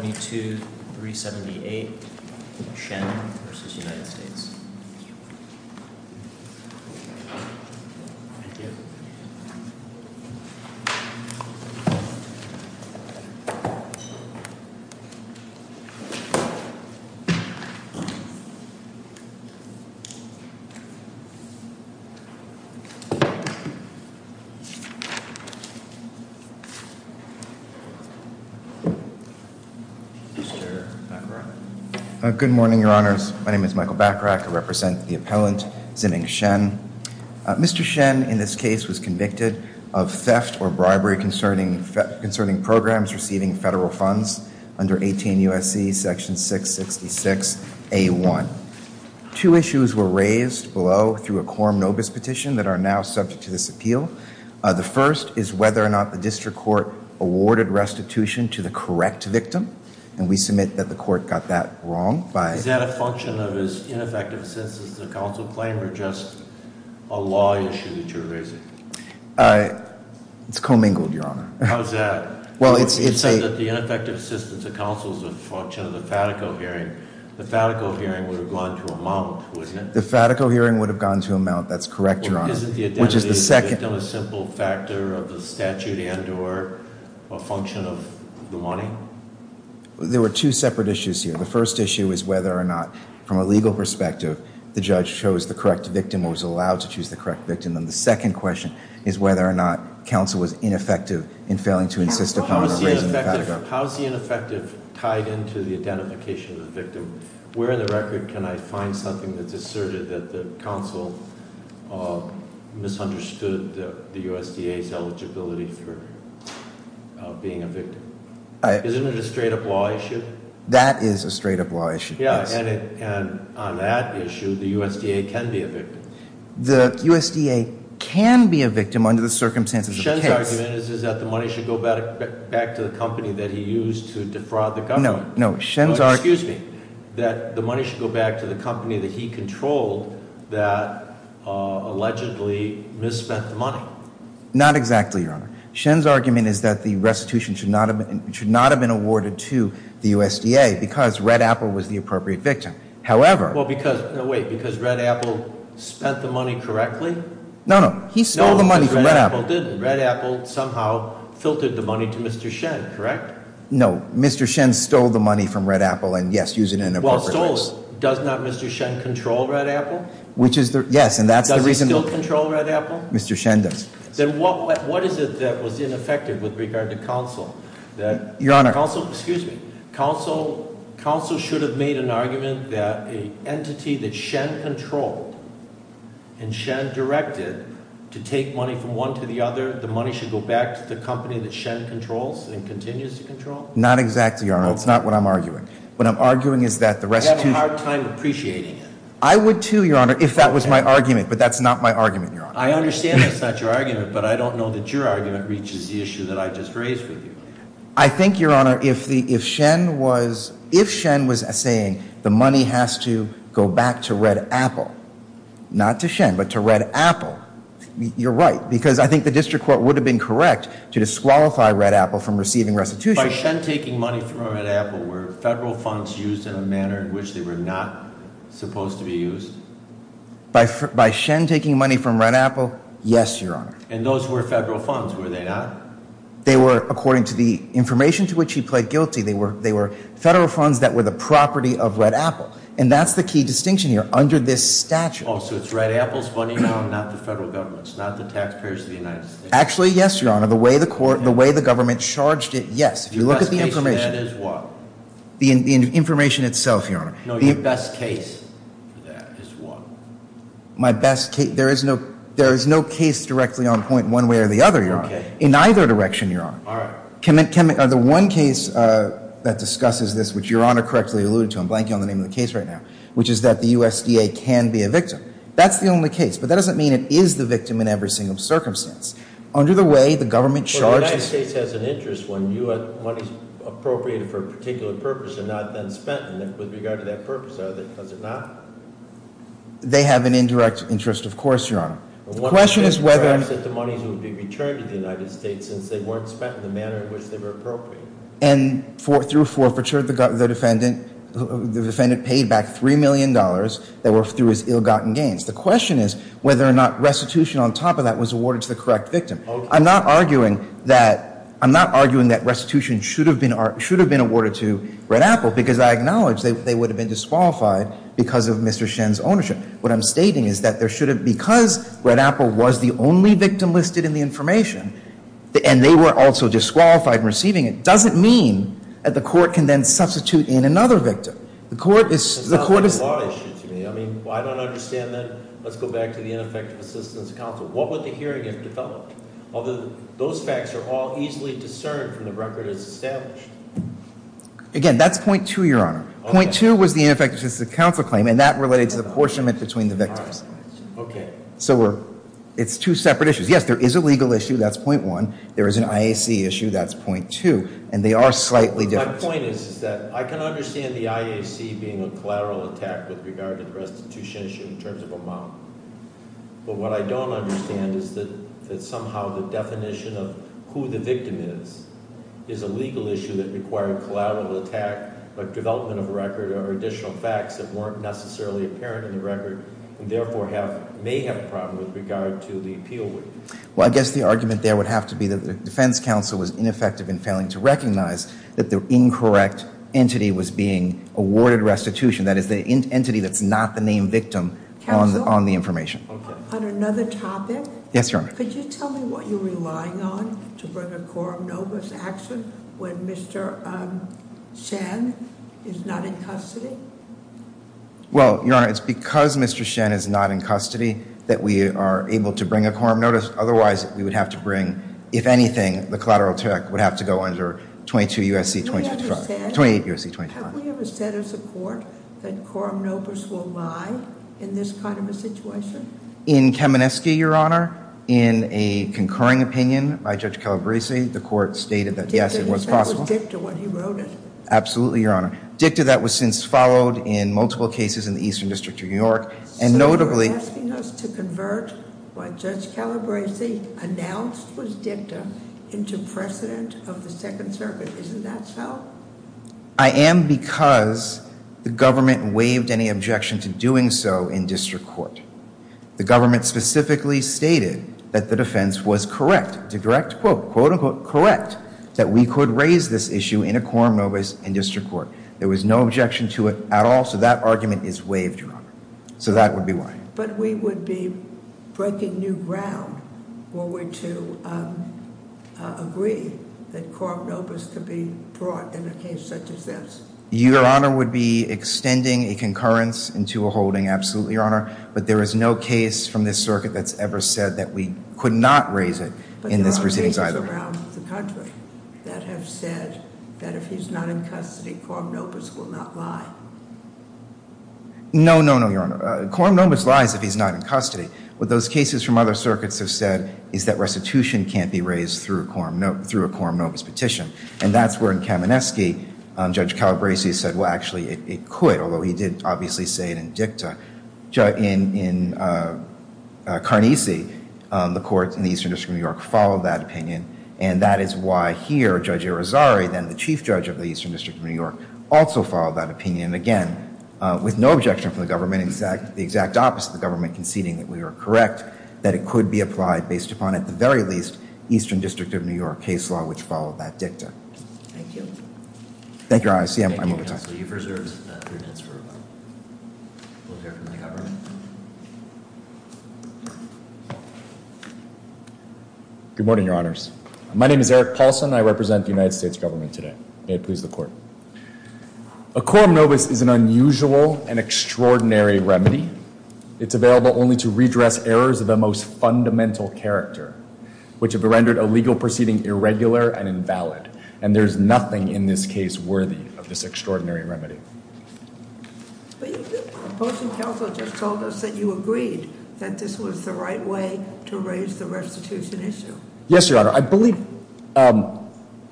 22-378 Shen v. United States 2-313-515-0. Mr. Bacarach. Good morning, your honors. My name is Michael Bacarach. I represent the appellant, Zining Shen. Mr. Shen in this case was convicted of theft or bribery concerning programs receiving federal funds under 18 U.S.C. section 666 A1. Two issues were raised below through a quorum nobis petition that are now subject to this appeal. The first is whether or not the district court awarded restitution to the correct victim, and we submit that the court got that wrong by- Is that a function of his ineffective assistance to the counsel claim or just a law issue that you're raising? It's co-mingled, your honor. How is that? Well, it's a- You said that the ineffective assistance of counsel is a function of the FATICO hearing. The FATICO hearing would have gone to a mount, wouldn't it? The FATICO hearing would have gone to a mount. That's correct, your honor. Which is the second- Isn't the identity of the victim a simple factor of the statute and or a function of the money? There were two separate issues here. The first issue is whether or not, from a legal perspective, the judge chose the correct victim or was allowed to choose the correct victim, and the second question is whether or not counsel was ineffective in failing to insist upon raising the FATICO. How is the ineffective tied into the identification of the victim? Where in the record can I find something that's asserted that the counsel misunderstood the USDA's eligibility for being a victim? Isn't it a straight-up law issue? That is a straight-up law issue, yes. Yeah, and on that issue, the USDA can be a victim. The USDA can be a victim under the circumstances of the case. Shen's argument is that the money should go back to the company that he used to defraud the government. No, no. Excuse me. That the money should go back to the company that he controlled that allegedly misspent the money. Not exactly, Your Honor. Shen's argument is that the restitution should not have been awarded to the USDA because Red Apple was the appropriate victim. However... Well, because... No, wait. Because Red Apple spent the money correctly? No, no. He stole the money from Red Apple. No, because Red Apple didn't. Red Apple somehow filtered the money to Mr. Shen, correct? No. Mr. Shen stole the money from Red Apple and, yes, used it in an appropriate way. Well, stole. Does not Mr. Shen control Red Apple? Which is the... Yes, and that's the reason... Does he still control Red Apple? Mr. Shen does. Then what is it that was ineffective with regard to counsel? Your Honor. Counsel, excuse me. Counsel should have made an argument that an entity that Shen controlled and Shen directed to take money from one to the other, the money should go back to the company that Shen controls and continues to control? Not exactly, Your Honor. It's not what I'm arguing. What I'm arguing is that the rest of the... You have a hard time appreciating it. I would too, Your Honor, if that was my argument, but that's not my argument, Your Honor. I understand that's not your argument, but I don't know that your argument reaches the issue that I just raised with you. I think, Your Honor, if Shen was saying the money has to go back to Red Apple, not to Shen, but to Red Apple, you're right. Because I think the district court would have been correct to disqualify Red Apple from receiving restitution. By Shen taking money from Red Apple, were federal funds used in a manner in which they were not supposed to be used? By Shen taking money from Red Apple, yes, Your Honor. And those were federal funds, were they not? They were, according to the information to which he pled guilty, they were federal funds that were the property of Red Apple. And that's the key distinction here, under this statute. Oh, so it's Red Apple's money, Your Honor, not the federal government's, not the taxpayers of the United States? Actually, yes, Your Honor. The way the government charged it, yes. If you look at the information. Your best case for that is what? The information itself, Your Honor. No, your best case for that is what? My best case, there is no case directly on point one way or the other, Your Honor. In either direction, Your Honor. All right. The one case that discusses this, which Your Honor correctly alluded to, I'm blanking on the name of the case right now, which is that the USDA can be a victim. That's the only case. But that doesn't mean it is the victim in every single circumstance. Under the way the government charged it. Well, the United States has an interest when money is appropriated for a particular purpose and not then spent with regard to that purpose, does it not? They have an indirect interest, of course, Your Honor. The question is whether. Well, what would be the interest if the money would be returned to the United States since they weren't spent in the manner in which they were appropriated? And through forfeiture, the defendant paid back $3 million that were through his ill-gotten gains. The question is whether or not restitution on top of that was awarded to the correct victim. I'm not arguing that restitution should have been awarded to Red Apple, because I acknowledge they would have been disqualified because of Mr. Shen's ownership. What I'm stating is that because Red Apple was the only victim listed in the information, and they were also disqualified in receiving it, doesn't mean that the court can then substitute in another victim. The court is- That's not a law issue to me. I mean, well, I don't understand that. Let's go back to the Ineffective Assistance Council. What would the hearing have developed? Although those facts are all easily discerned from the record as established. Again, that's point two, Your Honor. Point two was the Ineffective Assistance Council claim, and that related to the apportionment between the victims. Okay. So it's two separate issues. Yes, there is a legal issue. That's point one. There is an IAC issue. That's point two. And they are slightly different. My point is that I can understand the IAC being a collateral attack with regard to the restitution issue in terms of amount. But what I don't understand is that somehow the definition of who the victim is, is a legal issue that required collateral attack, like development of a record or additional facts that weren't necessarily apparent in the record, and therefore may have a problem with regard to the appeal. Well, I guess the argument there would have to be that the defense counsel was ineffective in failing to recognize that the incorrect entity was being awarded restitution. That is the entity that's not the named victim on the information. On another topic. Yes, Your Honor. Could you tell me what you're relying on to bring a quorum notice action when Mr. Shen is not in custody? Well, Your Honor, it's because Mr. Shen is not in custody that we are able to bring a quorum notice. Otherwise, we would have to bring, if anything, the collateral attack would have to go under 22 U.S.C. 25. 28 U.S.C. 25. Have we ever said as a court that quorum notice will lie in this kind of a situation? In Kamineski, Your Honor, in a concurring opinion by Judge Calabresi, the court stated that yes, it was possible. He said it was dicta when he wrote it. Absolutely, Your Honor. Dicta that was since followed in multiple cases in the Eastern District of New York. And notably- So you're asking us to convert what Judge Calabresi announced was dicta into precedent of the Second Circuit. Isn't that so? I am because the government waived any objection to doing so in district court. The government specifically stated that the defense was correct. To direct quote, unquote, correct, that we could raise this issue in a quorum notice in district court. There was no objection to it at all, so that argument is waived, Your Honor. So that would be why. But we would be breaking new ground when we're to agree that quorum notice could be brought in a case such as this. Your Honor would be extending a concurrence into a holding, absolutely, Your Honor. But there is no case from this circuit that's ever said that we could not raise it in this proceedings either. But there are cases around the country that have said that if he's not in custody, quorum notice will not lie. No, no, no, Your Honor. Quorum notice lies if he's not in custody. What those cases from other circuits have said is that restitution can't be raised through a quorum notice petition. And that's where in Kamineski, Judge Calabresi said, well, actually, it could, although he didn't obviously say it in dicta. In Karnesi, the courts in the Eastern District of New York followed that opinion. And that is why here, Judge Irizarry, then the Chief Judge of the Eastern District of New York, also followed that opinion. Again, with no objection from the government, the exact opposite of the government conceding that we were correct, that it could be applied based upon, at the very least, Eastern District of New York case law, which followed that dicta. Thank you. Thank you, Your Honor, I see I'm over time. So you've reserved three minutes for a moment. We'll hear from the government. Good morning, Your Honors. My name is Eric Paulson. I represent the United States government today. May it please the court. A quorum notice is an unusual and extraordinary remedy. It's available only to redress errors of the most fundamental character, which have rendered a legal proceeding irregular and invalid. And there's nothing in this case worthy of this extraordinary remedy. But your opposing counsel just told us that you agreed that this was the right way to raise the restitution issue. Yes, Your Honor, I believe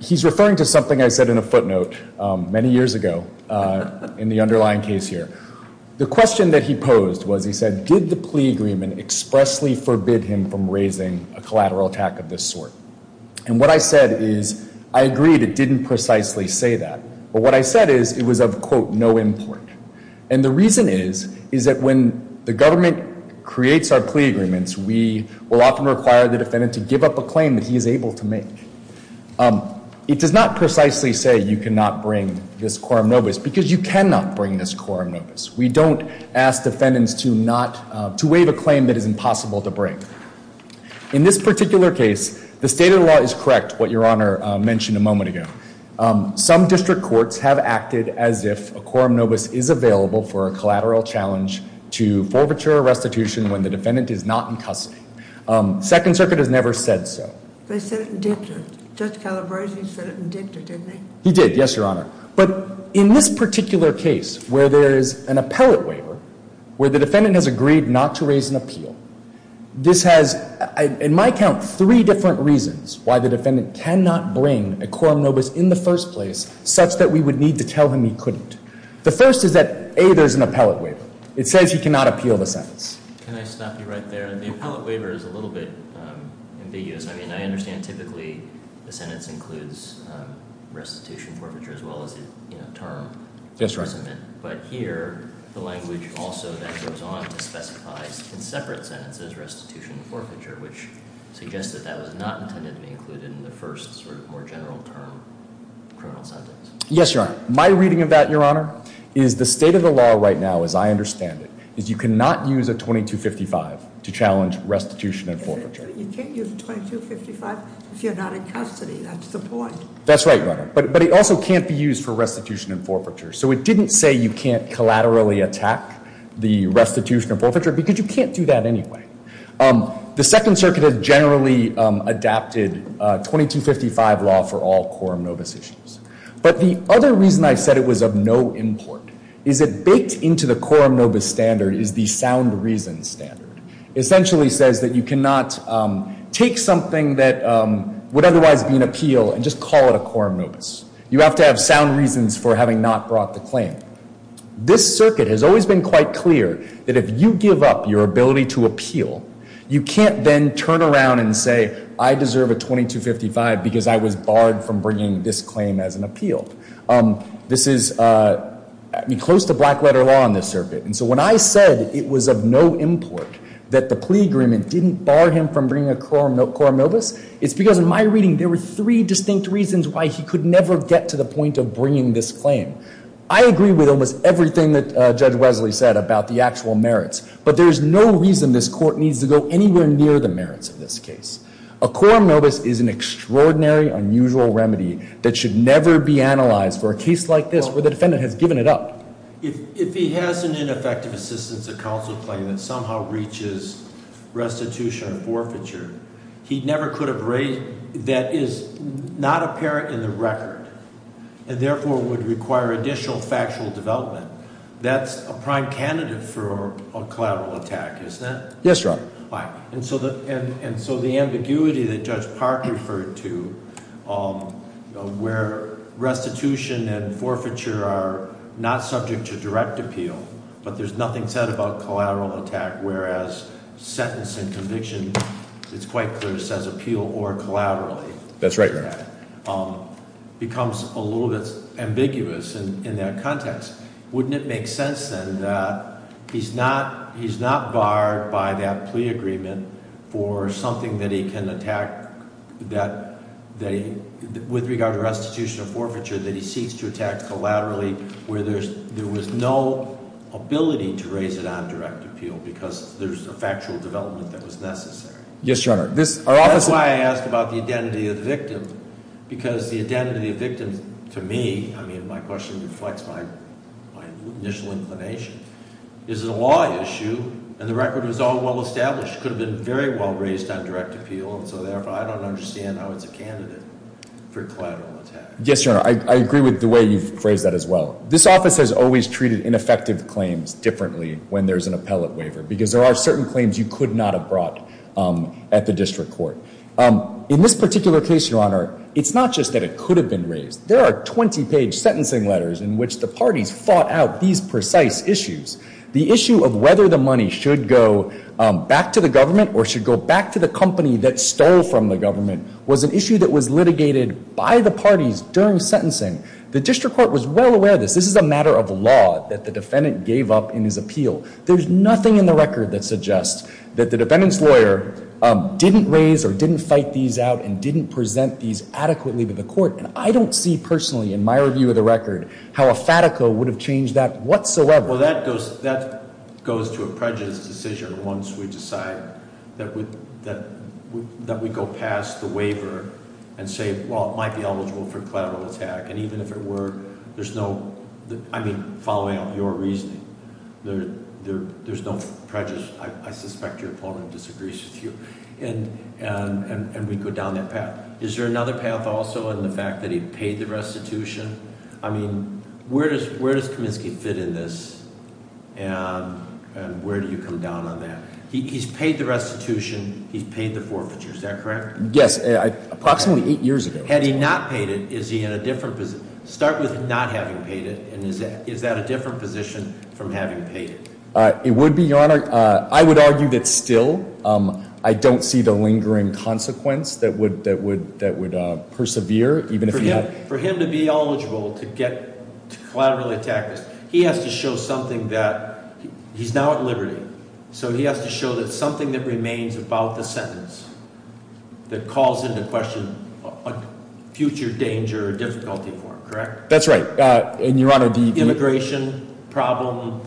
he's referring to something I said in a footnote many years ago in the underlying case here. The question that he posed was, he said, did the plea agreement expressly forbid him from raising a collateral attack of this sort? And what I said is, I agreed it didn't precisely say that. But what I said is, it was of, quote, no import. And the reason is, is that when the government creates our plea agreements, we will often require the defendant to give up a claim that he is able to make. It does not precisely say you cannot bring this quorum notice, because you cannot bring this quorum notice. We don't ask defendants to waive a claim that is impossible to bring. In this particular case, the state of the law is correct, what Your Honor mentioned a moment ago. Some district courts have acted as if a quorum notice is available for a collateral challenge to forfeiture a restitution when the defendant is not in custody. Second Circuit has never said so. They said it in dicta. Judge Calabrese said it in dicta, didn't he? He did, yes, Your Honor. But in this particular case, where there is an appellate waiver, where the defendant has agreed not to raise an appeal, this has, in my account, three different reasons why the defendant cannot bring a quorum notice in the first place such that we would need to tell him he couldn't. The first is that, A, there's an appellate waiver. It says he cannot appeal the sentence. Can I stop you right there? The appellate waiver is a little bit ambiguous. I mean, I understand typically the sentence includes restitution forfeiture as well as the term. Yes, Your Honor. But here, the language also then goes on to specify in separate sentences restitution forfeiture, which suggests that that was not intended to be included in the first sort of more general term criminal sentence. Yes, Your Honor. My reading of that, Your Honor, is the state of the law right now, as I understand it, is you cannot use a 2255 to challenge restitution and forfeiture. You can't use 2255 if you're not in custody, that's the point. That's right, Your Honor. But it also can't be used for restitution and forfeiture. So it didn't say you can't collaterally attack the restitution or forfeiture, because you can't do that anyway. The Second Circuit has generally adapted 2255 law for all quorum nobis issues. But the other reason I said it was of no import is that baked into the quorum nobis standard is the sound reason standard. It essentially says that you cannot take something that would otherwise be an appeal and just call it a quorum nobis. You have to have sound reasons for having not brought the claim. This circuit has always been quite clear that if you give up your ability to appeal, you can't then turn around and say, I deserve a 2255 because I was barred from bringing this claim as an appeal. This is close to black letter law in this circuit. And so when I said it was of no import that the plea agreement didn't bar him from bringing a quorum nobis, it's because in my reading there were three distinct reasons why he could never get to the point of bringing this claim. I agree with almost everything that Judge Wesley said about the actual merits. But there's no reason this court needs to go anywhere near the merits of this case. A quorum nobis is an extraordinary, unusual remedy that should never be analyzed for a case like this where the defendant has given it up. If he has an ineffective assistance of counsel claim that somehow reaches restitution or forfeiture, he never could have raised, that is not apparent in the record, and therefore would require additional factual development. That's a prime candidate for a collateral attack, isn't it? Yes, Your Honor. And so the ambiguity that Judge Park referred to, where restitution and forfeiture are not subject to direct appeal, but there's nothing said about collateral attack, whereas sentence and conviction, it's quite clear, says appeal or collaterally. That's right, Your Honor. Becomes a little bit ambiguous in that context. Wouldn't it make sense then that he's not barred by that plea agreement for something that he can attack with regard to restitution or ability to raise it on direct appeal because there's a factual development that was necessary? Yes, Your Honor. That's why I asked about the identity of the victim. Because the identity of the victim, to me, I mean, my question reflects my initial inclination. Is it a law issue, and the record was all well established, could have been very well raised on direct appeal and so therefore I don't understand how it's a candidate for collateral attack. Yes, Your Honor, I agree with the way you've phrased that as well. This office has always treated ineffective claims differently when there's an appellate waiver, because there are certain claims you could not have brought at the district court. In this particular case, Your Honor, it's not just that it could have been raised. There are 20 page sentencing letters in which the parties fought out these precise issues. The issue of whether the money should go back to the government or should go back to the company that stole from the government was an issue that was litigated by the parties during sentencing. The district court was well aware of this. This is a matter of law that the defendant gave up in his appeal. There's nothing in the record that suggests that the defendant's lawyer didn't raise or didn't fight these out and didn't present these adequately to the court. And I don't see personally, in my review of the record, how a FATACO would have changed that whatsoever. Well, that goes to a prejudice decision once we decide that we go past the waiver and say, well, it might be eligible for collateral attack, and even if it were, there's no, I mean, following up your reasoning. There's no prejudice, I suspect your opponent disagrees with you, and we go down that path. Is there another path also in the fact that he paid the restitution? I mean, where does Kaminsky fit in this, and where do you come down on that? He's paid the restitution, he's paid the forfeiture, is that correct? Yes, approximately eight years ago. Had he not paid it, is he in a different position? Start with not having paid it, and is that a different position from having paid it? It would be, your honor. I would argue that still, I don't see the lingering consequence that would persevere, even if he had- For him to be eligible to get collateral attack, he has to show something that, he's now at liberty. So he has to show that something that remains about the sentence, that calls into question a future danger or difficulty for him, correct? That's right, and your honor, the- Immigration problem,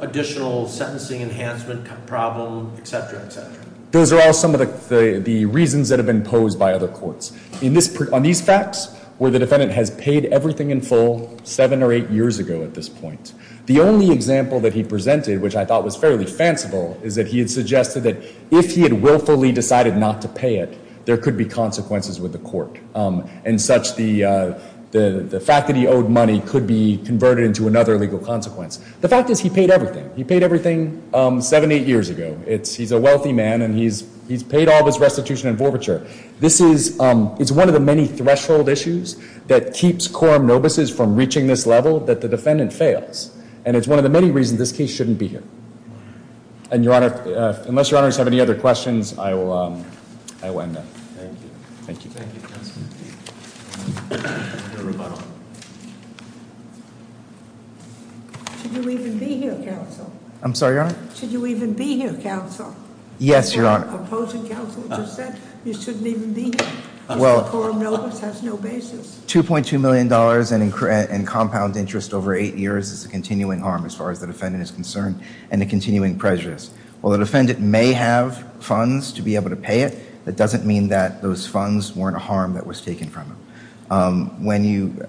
additional sentencing enhancement problem, etc., etc. Those are all some of the reasons that have been posed by other courts. On these facts, where the defendant has paid everything in full, seven or eight years ago at this point. The only example that he presented, which I thought was fairly fanciful, is that he had suggested that if he had willfully decided not to pay it, there could be consequences with the court. And such, the fact that he owed money could be converted into another legal consequence. The fact is, he paid everything. He paid everything seven, eight years ago. He's a wealthy man, and he's paid all his restitution and forfeiture. This is, it's one of the many threshold issues that keeps quorum nobuses from reaching this level that the defendant fails. And it's one of the many reasons this case shouldn't be here. And your honor, unless your honors have any other questions, I will end it. Thank you. Thank you, counsel. Should you even be here, counsel? I'm sorry, your honor? Should you even be here, counsel? Yes, your honor. Opposing counsel just said, you shouldn't even be here, because the quorum notice has no basis. $2.2 million in compound interest over eight years is a continuing harm, as far as the defendant is concerned, and a continuing prejudice. While the defendant may have funds to be able to pay it, that doesn't mean that those funds weren't a harm that was taken from him. When you,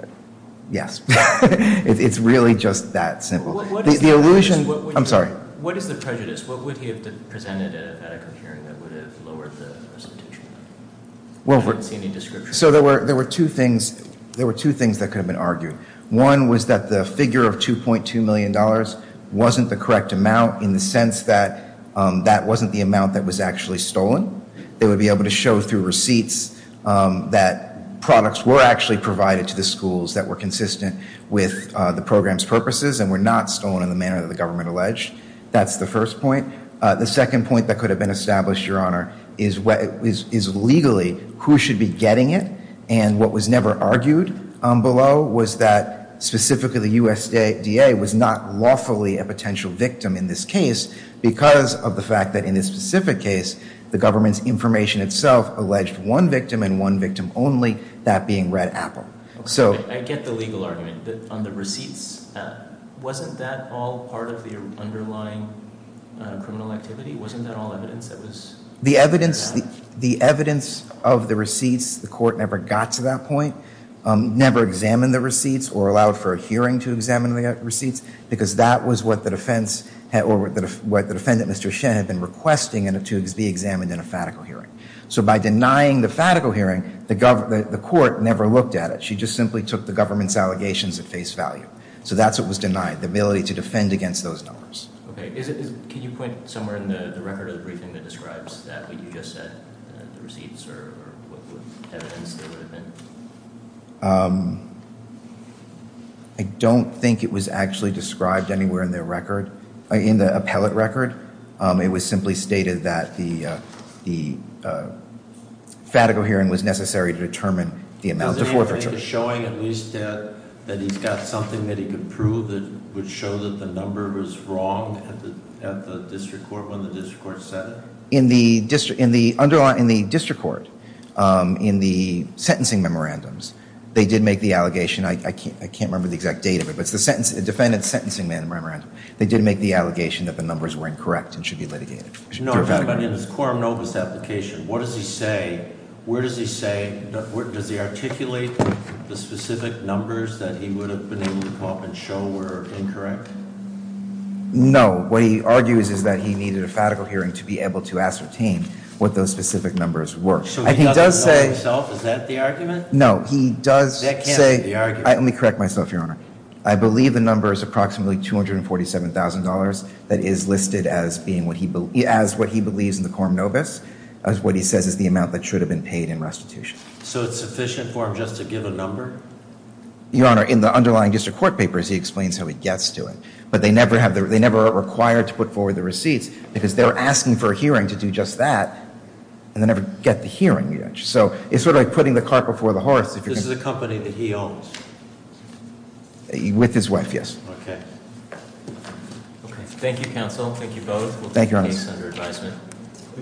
yes, it's really just that simple. The illusion, I'm sorry. What is the prejudice? What would he have presented at a hearing that would have lowered the presentation? I don't see any description. So there were two things that could have been argued. One was that the figure of $2.2 million wasn't the correct amount, in the sense that that wasn't the amount that was actually stolen. They would be able to show through receipts that products were actually provided to the schools that were consistent with the program's purposes and were not stolen in the manner that the government alleged. That's the first point. The second point that could have been established, your honor, is legally who should be getting it. And what was never argued below was that specifically the USDA was not lawfully a potential victim in this case. Because of the fact that in this specific case, the government's information itself alleged one victim and one victim only, that being Red Apple. So- I get the legal argument, but on the receipts, wasn't that all part of the underlying criminal activity? Wasn't that all evidence that was- The evidence of the receipts, the court never got to that point, never examined the receipts or allowed for a hearing to examine the receipts. Because that was what the defendant, Mr. Shen, had been requesting to be examined in a fatical hearing. So by denying the fatical hearing, the court never looked at it. She just simply took the government's allegations at face value. So that's what was denied, the ability to defend against those numbers. Okay, can you point somewhere in the record of the briefing that describes that, what you just said, the receipts or what evidence there would have been? I don't think it was actually described anywhere in the record, in the appellate record. It was simply stated that the fatical hearing was necessary to determine the amount of forfeiture. Is there anything showing at least that he's got something that he could prove that would show that the number was wrong at the district court when the district court said it? In the district court, in the sentencing memorandums, they did make the allegation. I can't remember the exact date of it, but it's the defendant's sentencing memorandum. They did make the allegation that the numbers were incorrect and should be litigated. No, but in his quorum notice application, what does he say, where does he say, does he articulate the specific numbers that he would have been able to come up and show were incorrect? No, what he argues is that he needed a fatical hearing to be able to ascertain what those specific numbers were. So he doesn't know himself, is that the argument? No, he does say- That can't be the argument. Let me correct myself, Your Honor. I believe the number is approximately $247,000 that is listed as what he believes in the quorum notice. That's what he says is the amount that should have been paid in restitution. So it's sufficient for him just to give a number? Your Honor, in the underlying district court papers, he explains how he gets to it. But they never are required to put forward the receipts, because they're asking for a hearing to do just that, and they never get the hearing. So it's sort of like putting the cart before the horse. This is a company that he owns. With his wife, yes. Okay. Thank you, counsel. Thank you both. We'll take the case under advisement.